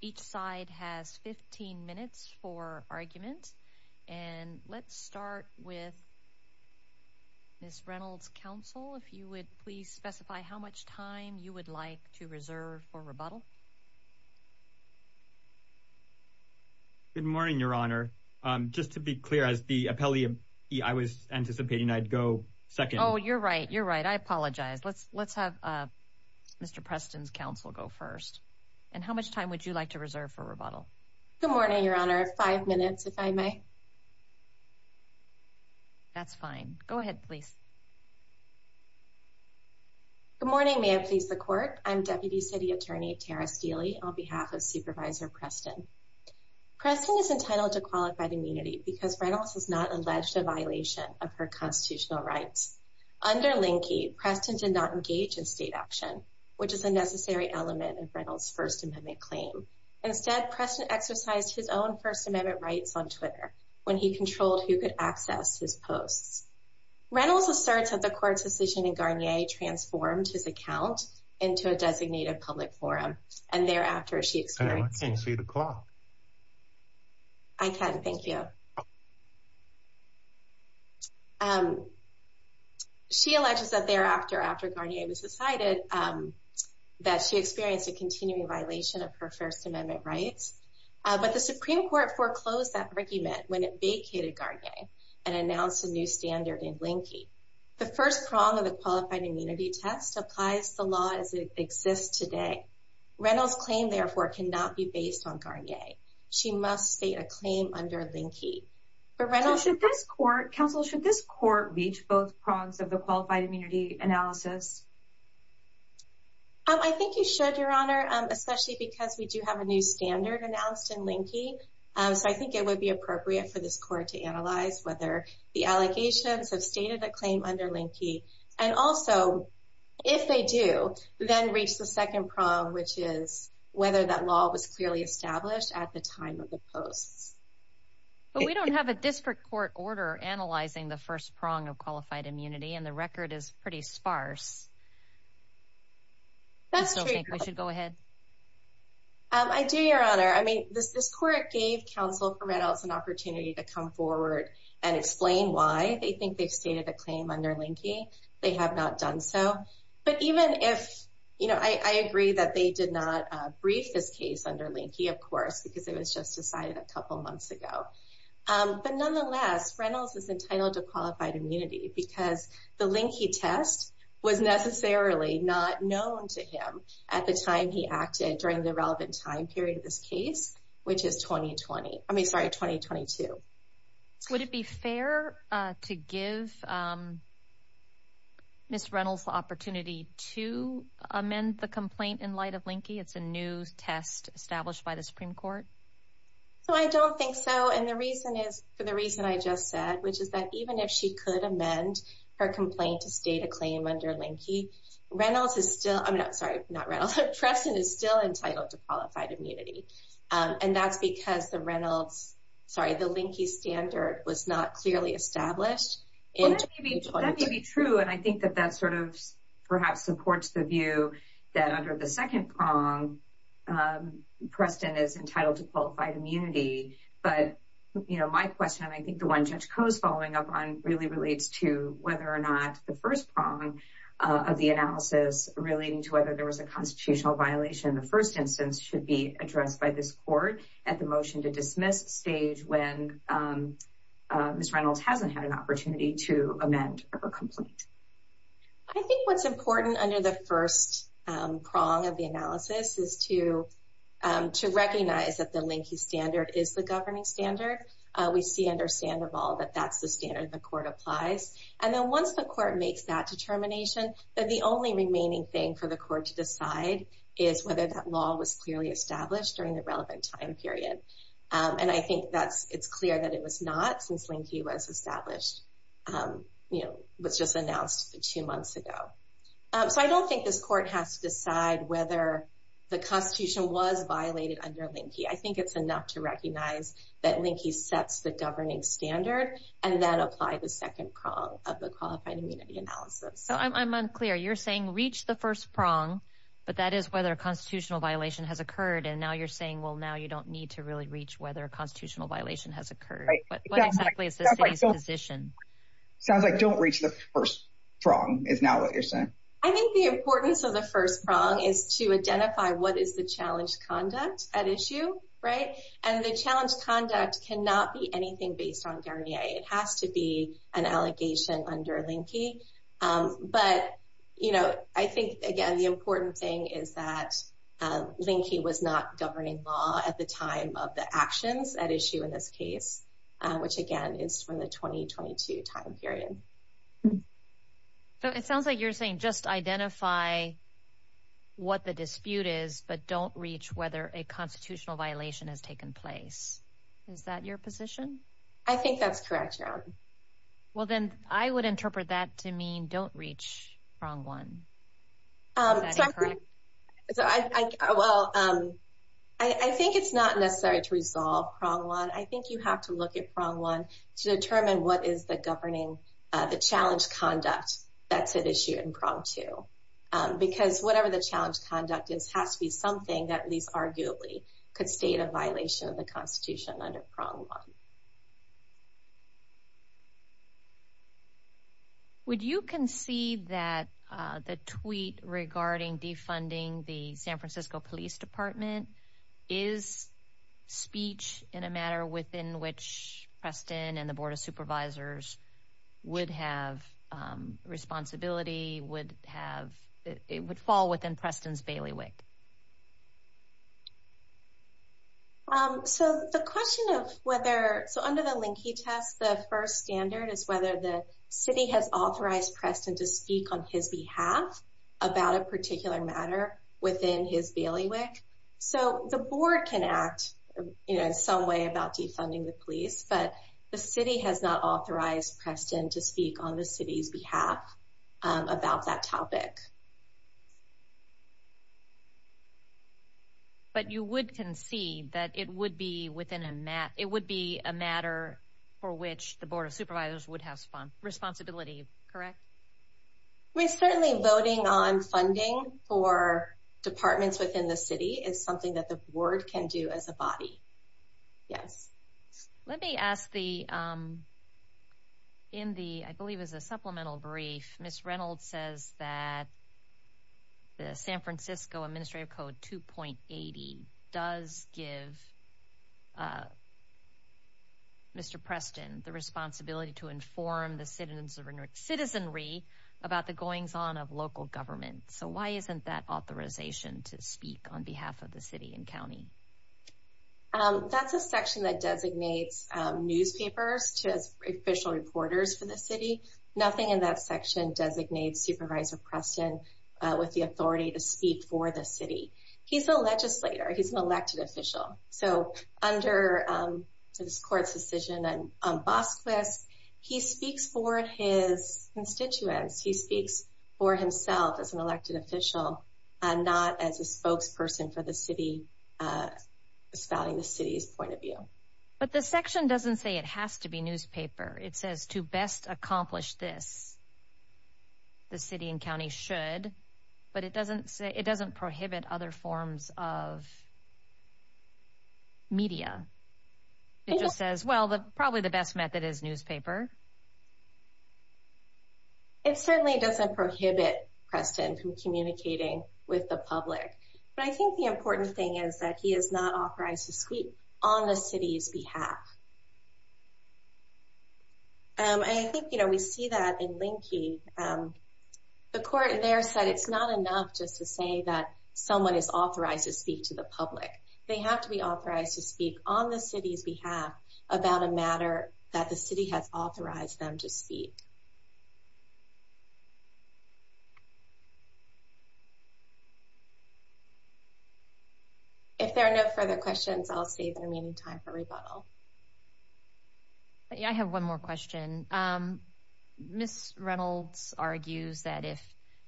Each side has 15 minutes for argument and let's start with Ms. Reynolds' counsel if you would please specify how much time you would like to reserve for rebuttal. Good morning Your Honor. Just to be clear as the appellee I was anticipating I'd go second. Oh you're right you're right I apologize let's have Mr. Preston's counsel go first and how much time would you like to reserve for rebuttal? Good morning Your Honor five minutes if I may. That's fine go ahead please. Good morning may I please the court I'm Deputy City Attorney Tara Steele on behalf of Supervisor Preston. Preston is entitled to qualified immunity because Reynolds has not alleged a violation of her constitutional rights. Under Linkey Preston did not engage in state action which is a necessary element of Reynolds First Amendment claim. Instead Preston exercised his own First Amendment rights on Twitter when he controlled who could access his posts. Reynolds asserts that the court's decision in Garnier transformed his account into a designated public forum and thereafter she experienced. Can you see the I can thank you. She alleges that thereafter after Garnier was decided that she experienced a continuing violation of her First Amendment rights but the Supreme Court foreclosed that argument when it vacated Garnier and announced a new standard in Linkey. The first prong of the qualified immunity test applies the law as it exists today. Reynolds claim therefore cannot be based on Garnier. She must state a claim under Linkey. Should this court counsel should this court reach both prongs of the qualified immunity analysis? I think you should your honor especially because we do have a new standard announced in Linkey so I think it would be appropriate for this court to analyze whether the allegations have stated a claim under Linkey and also if they do then reach the second prong which is whether that law was clearly established at the time of the posts. But we don't have a district court order analyzing the first prong of qualified immunity and the record is pretty sparse. I still think we should go ahead. I do your honor I mean this this court gave counsel for Reynolds an opportunity to come forward and explain why they think they've stated a claim under Linkey. They have not done so but even if you know I of course because it was just decided a couple months ago. But nonetheless Reynolds is entitled to qualified immunity because the Linkey test was necessarily not known to him at the time he acted during the relevant time period of this case which is 2020. I mean sorry 2022. Would it be fair to give Miss Reynolds the opportunity to amend the complaint in light of Linkey? It's a new test established by the Supreme Court. So I don't think so and the reason is for the reason I just said which is that even if she could amend her complaint to state a claim under Linkey Reynolds is still I'm not sorry not Reynolds Preston is still entitled to qualified immunity and that's because the Reynolds sorry the Linkey standard was not clearly established. That may be true and I think that that sort of perhaps supports the view that under the second prong Preston is entitled to qualified immunity but you know my question I think the one Judge Koh's following up on really relates to whether or not the first prong of the analysis relating to whether there was a constitutional violation in the first instance should be addressed by this court at the motion to dismiss stage when Miss Reynolds hasn't had an opportunity to amend a complaint. I think what's important under the first prong of the analysis is to to recognize that the Linkey standard is the governing standard. We see under Sandoval that that's the standard the court applies and then once the court makes that determination that the only remaining thing for the court to decide is whether that law was clearly established during the relevant time period and I think that's it's clear that it was not since Linkey was just announced two months ago. So I don't think this court has to decide whether the Constitution was violated under Linkey. I think it's enough to recognize that Linkey sets the governing standard and then apply the second prong of the qualified immunity analysis. So I'm unclear you're saying reach the first prong but that is whether a constitutional violation has occurred and now you're saying well now you don't need to really reach whether a first prong is now what you're saying. I think the importance of the first prong is to identify what is the challenge conduct at issue right and the challenge conduct cannot be anything based on Guernier. It has to be an allegation under Linkey but you know I think again the important thing is that Linkey was not governing law at the time of the actions at issue in this case which again is for the 2022 time period. So it sounds like you're saying just identify what the dispute is but don't reach whether a constitutional violation has taken place. Is that your position? I think that's correct. Well then I would interpret that to mean don't reach prong one. Well I think it's not necessary to resolve prong one. I think you have to look at prong one to determine what is the governing the challenge conduct that's at issue in prong two because whatever the challenge conduct is has to be something that at least arguably could state a violation of the Constitution under prong one. Would you concede that the tweet regarding defunding the San Francisco Police Department is speech in a matter within which Preston and the Board of Supervisors would have responsibility would have it would fall within Preston's bailiwick? So the question of whether so under the Linkey test the first standard is whether the city has authorized Preston to speak on his bailiwick. So the board can act you know some way about defunding the police but the city has not authorized Preston to speak on the city's behalf about that topic. But you would concede that it would be within a mat it would be a matter for which the Board of Supervisors would have responsibility correct? We certainly voting on funding for departments within the city is something that the board can do as a body yes. Let me ask the in the I believe is a supplemental brief Miss Reynolds says that the San Francisco Administrative Code 2.80 does give Mr. Preston the responsibility to inform the citizens of citizenry about the goings-on of local government. So why isn't that authorization to speak on behalf of the city and county? That's a section that designates newspapers to as official reporters for the city nothing in that section designates Supervisor Preston with the authority to speak for the city. He's a legislator he's an elected official so under this court's decision on Bosquez he speaks for his constituents he speaks for himself as an elected official and not as a spokesperson for the city spouting the city's point of view. But the section doesn't say it has to be newspaper it says to best accomplish this the city and county should but it doesn't say it probably the best method is newspaper. It certainly doesn't prohibit Preston from communicating with the public but I think the important thing is that he is not authorized to speak on the city's behalf. I think you know we see that in Lincoln the court there said it's not enough just to say that someone is authorized to speak to the public they have to be authorized to speak on the city's behalf about a matter that the city has authorized them to speak. If there are no further questions I'll save the remaining time for rebuttal. I have one more question. Ms. Reynolds argues that if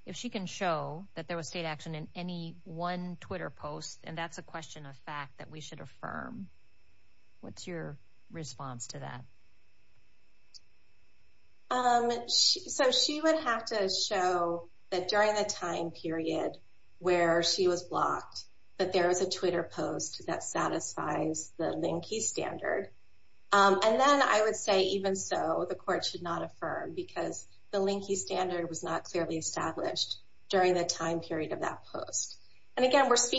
if she can show that there was state action in any one Twitter post and that's a question of we should affirm. What's your response to that? So she would have to show that during the time period where she was blocked that there was a Twitter post that satisfies the Lincoln standard and then I would say even so the court should not affirm because the Lincoln standard was not clearly established during the time period of that post. And again we're has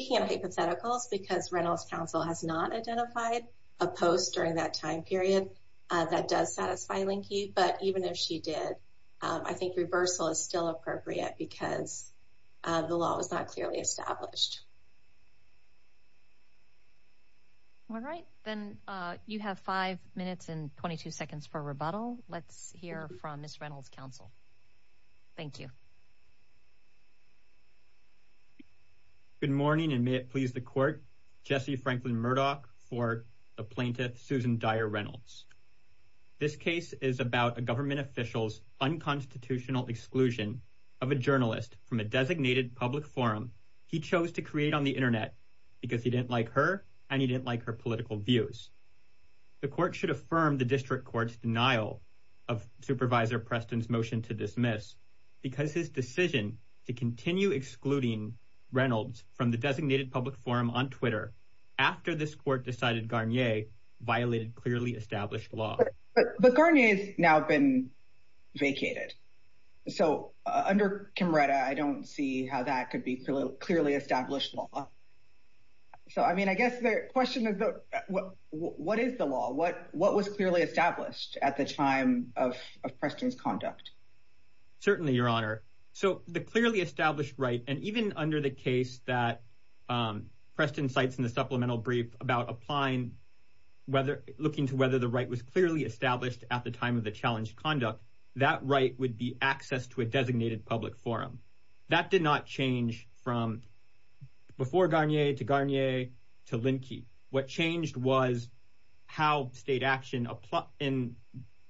not identified a post during that time period that does satisfy Lincoln but even if she did I think reversal is still appropriate because the law was not clearly established. All right then you have five minutes and 22 seconds for rebuttal. Let's hear from Ms. Reynolds counsel. Thank you. Good morning and may it please the court. Jesse Franklin Murdoch for the plaintiff Susan Dyer Reynolds. This case is about a government official's unconstitutional exclusion of a journalist from a designated public forum he chose to create on the internet because he didn't like her and he didn't like her political views. The court should affirm the district court's dismiss because his decision to continue excluding Reynolds from the designated public forum on Twitter after this court decided Garnier violated clearly established law. But Garnier has now been vacated so under Camreta I don't see how that could be clearly established law. So I mean I guess the question is what is the law what what was clearly established at the time of Certainly your honor. So the clearly established right and even under the case that Preston cites in the supplemental brief about applying whether looking to whether the right was clearly established at the time of the challenged conduct that right would be access to a designated public forum. That did not change from before Garnier to Garnier to Linke. What changed was how state action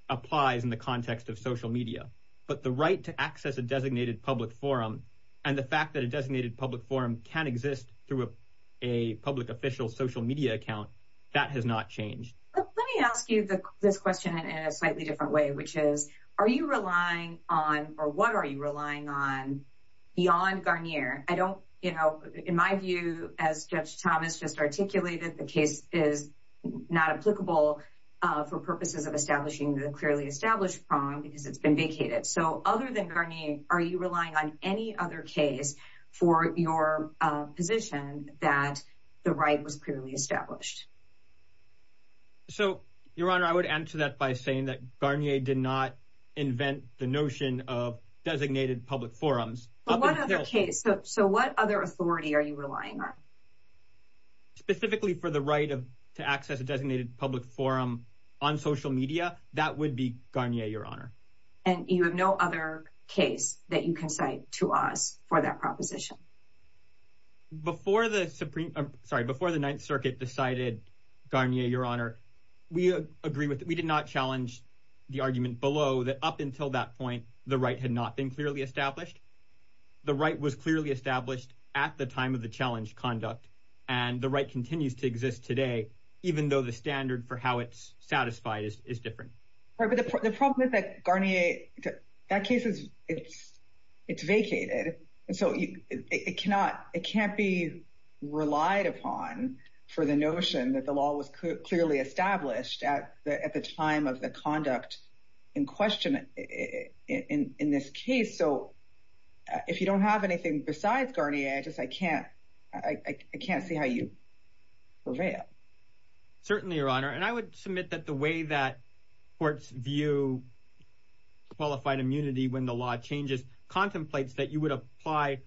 applies in the context of social media. But the right to access a designated public forum and the fact that a designated public forum can exist through a public official social media account that has not changed. Let me ask you this question in a slightly different way which is are you relying on or what are you relying on beyond Garnier? I don't you know in my view as Judge Thomas just articulated the case is not applicable for purposes of establishing the clearly established prong because it's been vacated. So other than Garnier are you relying on any other case for your position that the right was clearly established? So your honor I would answer that by saying that Garnier did not invent the notion of designated public forums. But what other case so what other authority are you relying on? Specifically for the right of to access a designated public forum on social media that would be Garnier your honor. And you have no other case that you can cite to us for that proposition? Before the Supreme sorry before the Ninth Circuit decided Garnier your honor we agree with we did not challenge the argument below that up until that point the right had not been clearly established. The right was clearly established at the time of the challenged conduct and the right continues to exist today even though the standard for how it's satisfied is different. But the problem is that Garnier that case is it's it's vacated and so you it cannot it can't be relied upon for the notion that the law was clearly established at the at the time of the conduct in question in this case. So if you don't have anything besides Garnier I just I can't I can't see how you prevail. Certainly your honor and I would submit that the way that courts view qualified immunity when the law changes contemplates that you would apply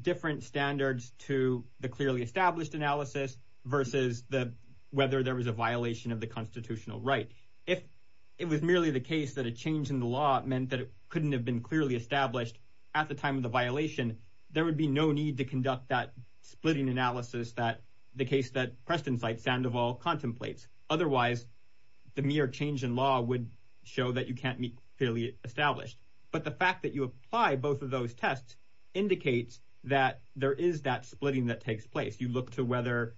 different standards to the clearly established analysis versus the whether there was a violation of the constitutional right. If it was merely the case that a change in the law meant that it couldn't have been clearly established at the time of the violation there would be no need to conduct that splitting analysis that the case that Preston cites Sandoval contemplates. Otherwise the mere change in law would show that you can't meet clearly established. But the fact that you apply both of those tests indicates that there is that splitting that takes place. You look to whether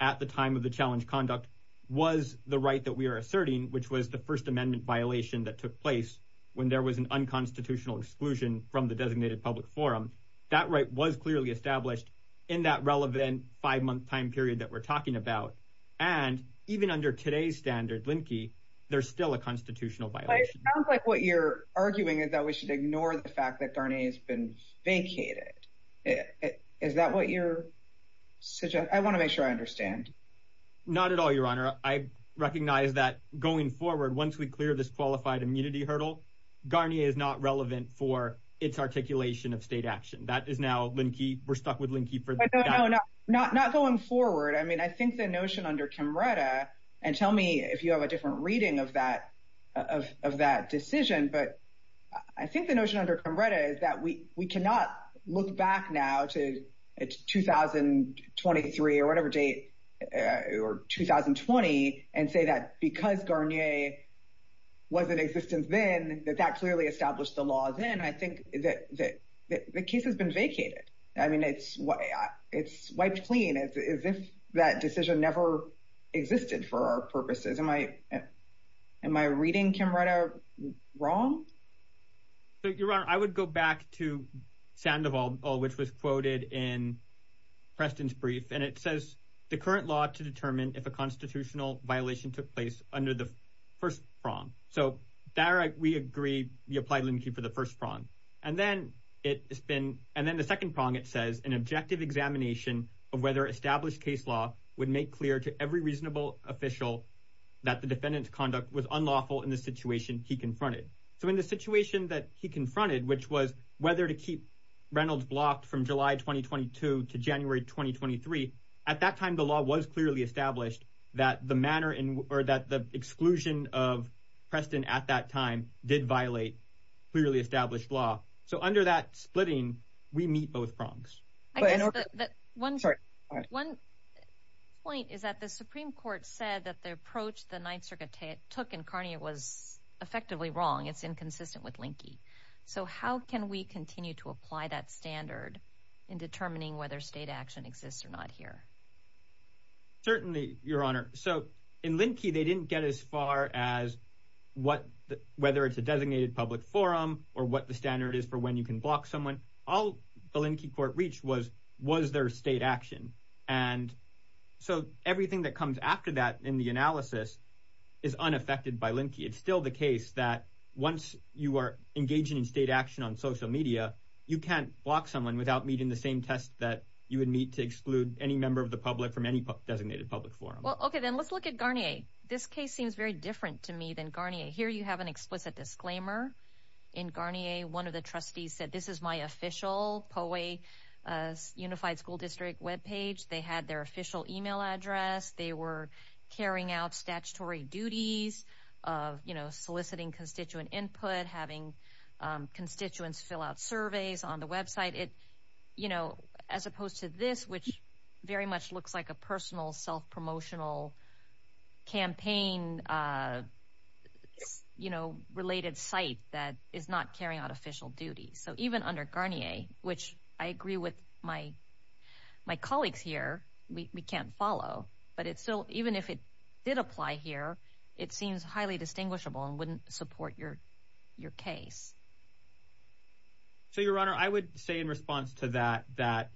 at the time of the challenge conduct was the right that we are asserting which was the First Amendment violation that took place when there was an unconstitutional exclusion from the designated public forum. That right was clearly established in that relevant five-month time period that we're talking about and even under today's standard Linke there's still a constitutional violation. It sounds like what you're arguing is that we should ignore the fact that Garnier has been vacated. Is that what you're suggesting? I want to make sure I understand. Not at all your honor. I recognize that going forward once we clear this qualified immunity hurdle Garnier is not relevant for its articulation of state action. That is now Linke, we're stuck with Linke for the time being. Not going forward I mean I think the notion under Camreta and tell me if you have a different reading of that of that decision but I think the notion under Camreta is that we we cannot look back now to 2023 or whatever date or 2020 and say that because Garnier was in existence then that that clearly established the law then I think that the case has been vacated. I mean it's what it's wiped clean as if that decision never existed for our purposes. Am I reading Camreta wrong? Your honor I would go back to Sandoval which was quoted in Preston's brief and it says the current law to determine if a constitutional violation took place under the first prong. So there we agree we apply Linke for the first prong and then it's been and then the second prong it says an objective examination of whether established case would make clear to every reasonable official that the defendant's conduct was unlawful in the situation he confronted. So in the situation that he confronted which was whether to keep Reynolds blocked from July 2022 to January 2023 at that time the law was clearly established that the manner in or that the exclusion of Preston at that time did violate clearly established law So under that splitting we meet both prongs. One point is that the Supreme Court said that the approach the Ninth Circuit took in Garnier was effectively wrong it's inconsistent with Linke. So how can we continue to apply that standard in determining whether state action exists or not here? Certainly your honor so in Linke they didn't get as far as what whether it's a designated public forum or what the standard is for when you can block someone. All the Linke court reached was was there state action and so everything that comes after that in the analysis is unaffected by Linke. It's still the case that once you are engaging in state action on social media you can't block someone without meeting the same test that you would meet to exclude any member of the public from any designated public forum. Well okay then let's look at Garnier. This case seems very different to me than Garnier. Here you have an explicit disclaimer. In Garnier one of the trustees said this is my official POE Unified School District web page. They had their official email address. They were carrying out statutory duties of you know soliciting constituent input, having constituents fill out surveys on the website. It you know as opposed to this which very much looks like a personal self-promotional campaign you know related site that is not carrying out official duties. So even under Garnier which I agree with my my colleagues here we can't follow but it's still even if it did apply here it seems highly distinguishable and wouldn't support your your case. So your honor I would say in response to that that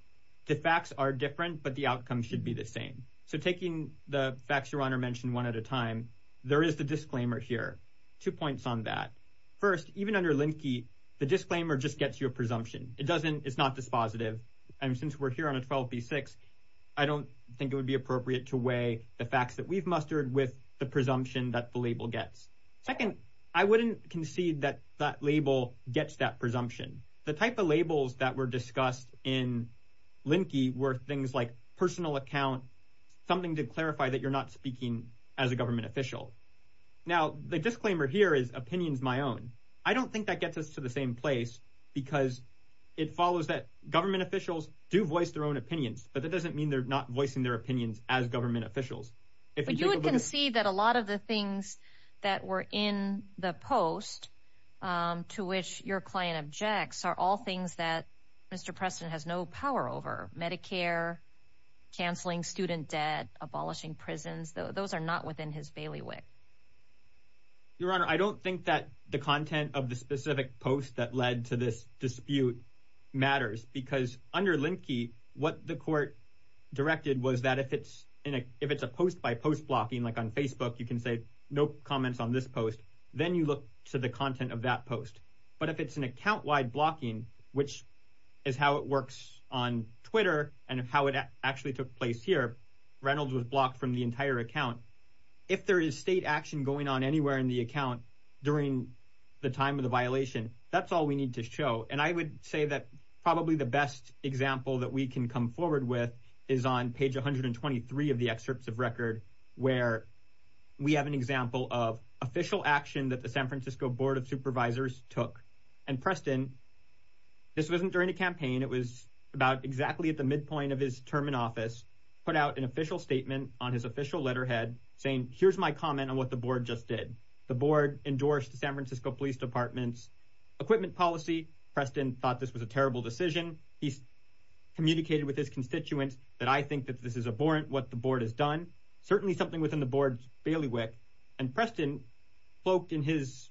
the facts are different but the outcome should be the same. So taking the facts your honor mentioned one at a time there is the disclaimer here. Two points on that. First even under Linke the disclaimer just gets you a presumption. It doesn't it's not dispositive and since we're here on a 12b6 I don't think it would be appropriate to weigh the facts that we've mustered with the presumption that the label gets. Second I wouldn't concede that that label gets that presumption. The type of labels that were something to clarify that you're not speaking as a government official. Now the disclaimer here is opinions my own. I don't think that gets us to the same place because it follows that government officials do voice their own opinions but that doesn't mean they're not voicing their opinions as government officials. But you would concede that a lot of the things that were in the post to which your client objects are all things that Mr. Preston has no power over. Medicare, canceling student debt, abolishing prisons. Those are not within his bailiwick. Your honor I don't think that the content of the specific post that led to this dispute matters because under Linke what the court directed was that if it's in a if it's a post by post blocking like on Facebook you can say no comments on this post then you look to the content of that post. But if it's an Twitter and how it actually took place here Reynolds was blocked from the entire account. If there is state action going on anywhere in the account during the time of the violation that's all we need to show and I would say that probably the best example that we can come forward with is on page 123 of the excerpts of record where we have an example of official action that the San Francisco Board of Supervisors took and Preston this wasn't during a campaign it was about exactly at the midpoint of his term in office put out an official statement on his official letterhead saying here's my comment on what the board just did. The board endorsed the San Francisco Police Department's equipment policy. Preston thought this was a terrible decision. He's communicated with his constituents that I think that this is abhorrent what the board has done. Certainly something within the board's bailiwick and Preston float in his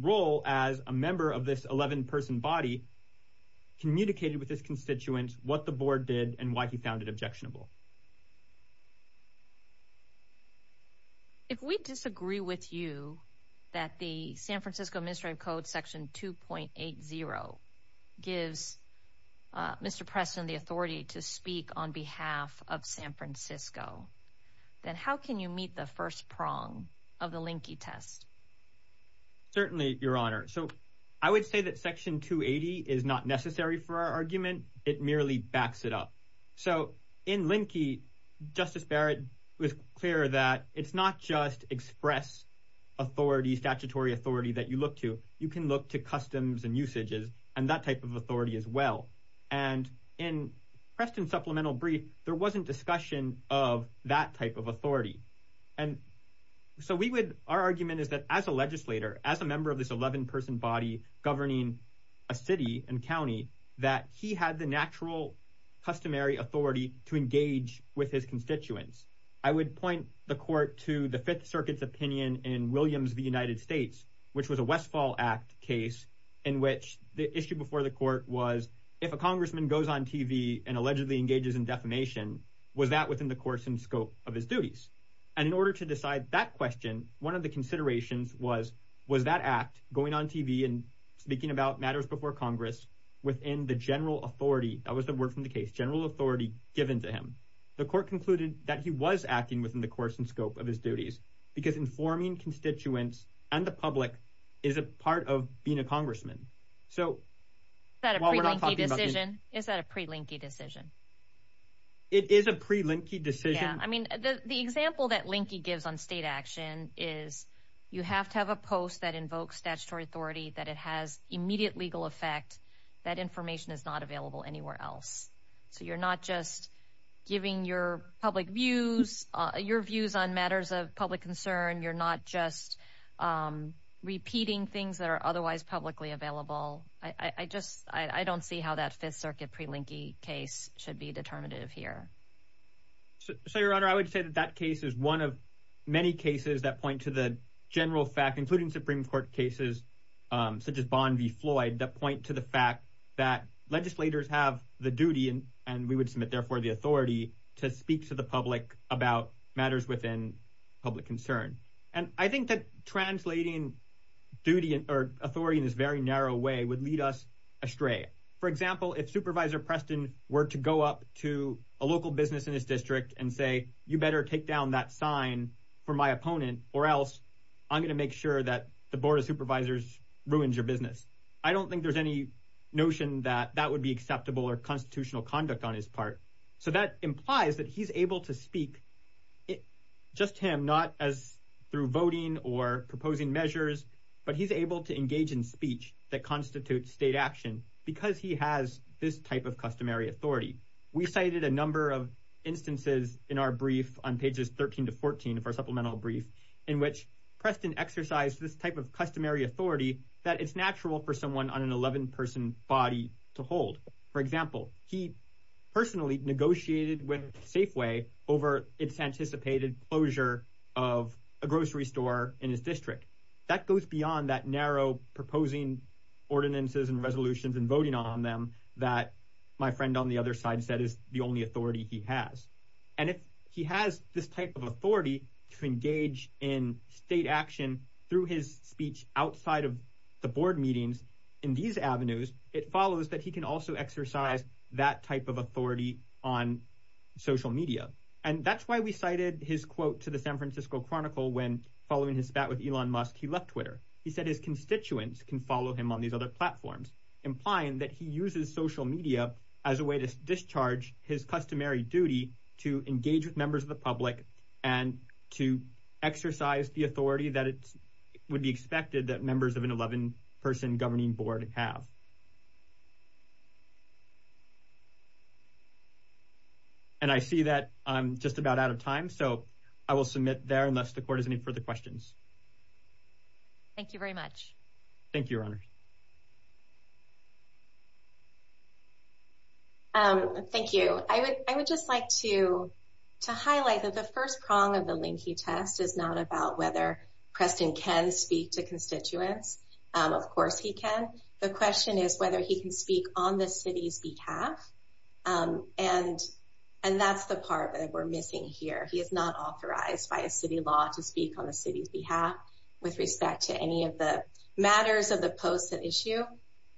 role as a member of this 11 person body communicated with his constituents what the board did and why he found it objectionable. If we disagree with you that the San Francisco Ministry of Code section 2.80 gives Mr. Preston the authority to speak on behalf of San Francisco then how can you meet the first prong of the linky test? Certainly your honor so I would say that it merely backs it up. So in linky Justice Barrett was clear that it's not just express authority statutory authority that you look to you can look to customs and usages and that type of authority as well and in Preston supplemental brief there wasn't discussion of that type of authority and so we would our argument is that as a legislator as a member of this 11 person body governing a city and county that he had the natural customary authority to engage with his constituents. I would point the court to the Fifth Circuit's opinion in Williams the United States which was a Westfall Act case in which the issue before the court was if a congressman goes on TV and allegedly engages in defamation was that within the course and scope of his duties and in order to decide that question one of the considerations was was that act going on TV and speaking about matters before Congress within the general authority that was the word from the case general authority given to him. The court concluded that he was acting within the course and scope of his duties because informing constituents and the public is a part of being a congressman. Is that a pre-linky decision? It is a pre-linky decision. I mean the example that linky gives on state action is you have to have a post that invokes statutory authority that it has immediate legal effect that information is not available anywhere else. So you're not just giving your public views your views on matters of public concern you're not just repeating things that are otherwise publicly available. I just I don't see how that Fifth Circuit pre-linky case should be determinative here. So your honor I would say that that case is one of many cases that point to the general fact including Supreme Court cases such as Bond v Floyd that point to the fact that legislators have the duty and and we would submit therefore the authority to speak to the public about matters within public concern. And I think that translating duty or authority in this very narrow way would lead us astray. For example if Supervisor Preston were to go up to a local business in this district and say you better take down that sign for my opponent or else I'm gonna make sure that the Board of Supervisors ruins your business. I don't think there's any notion that that would be acceptable or constitutional conduct on his part. So that implies that he's able to speak it just him not as through voting or proposing measures but he's able to engage in speech that constitutes state action because he has this type of customary authority. We cited a number of instances in our brief on pages 13 to 14 of our supplemental brief in which Preston exercised this type of customary authority that it's natural for someone on an 11 person body to hold. For example he personally negotiated with Safeway over its anticipated closure of a grocery store in his district. That goes beyond that narrow proposing ordinances and resolutions and voting on them that my friend on the other side said is the only authority he through his speech outside of the board meetings in these avenues it follows that he can also exercise that type of authority on social media and that's why we cited his quote to the San Francisco Chronicle when following his spat with Elon Musk he left Twitter. He said his constituents can follow him on these other platforms implying that he uses social media as a way to discharge his customary duty to engage with members of the public and to exercise the authority that it would be expected that members of an 11-person governing board have. And I see that I'm just about out of time so I will submit there unless the court has any further questions. Thank you very much. Thank you, Your Honor. Thank you. I would I would just like to to highlight that the first prong of the Preston can speak to constituents. Of course he can. The question is whether he can speak on the city's behalf. And and that's the part that we're missing here. He is not authorized by a city law to speak on the city's behalf with respect to any of the matters of the post that issue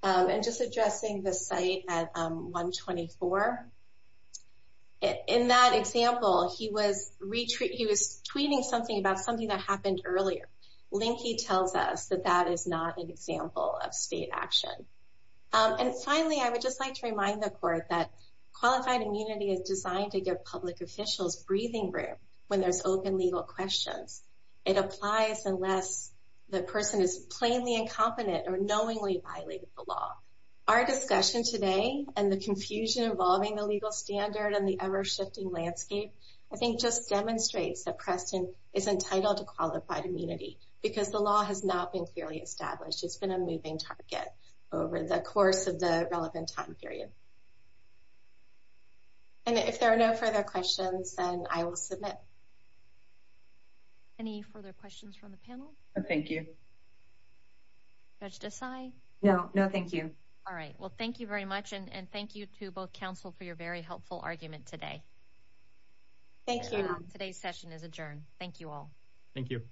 and just addressing the site at 124. In that example, he was retreat. He was tweeting something about something that happened earlier. Linky tells us that that is not an example of state action. And finally, I would just like to remind the court that qualified immunity is designed to give public officials breathing room when there's open legal questions. It applies unless the person is plainly incompetent or knowingly violated the law. Our discussion today and the confusion involving the legal standard and the ever shifting landscape, I think just demonstrates that Preston is entitled to qualified immunity because the law has not been clearly established. It's been a moving target over the course of the relevant time period. And if there are no further questions, then I will submit any further questions from the panel. Thank you, Judge Desai. No, no. Thank you. All right. Well, thank you very much. And thank you to both for your very helpful argument today. Thank you. Today's session is adjourned. Thank you all. Thank you.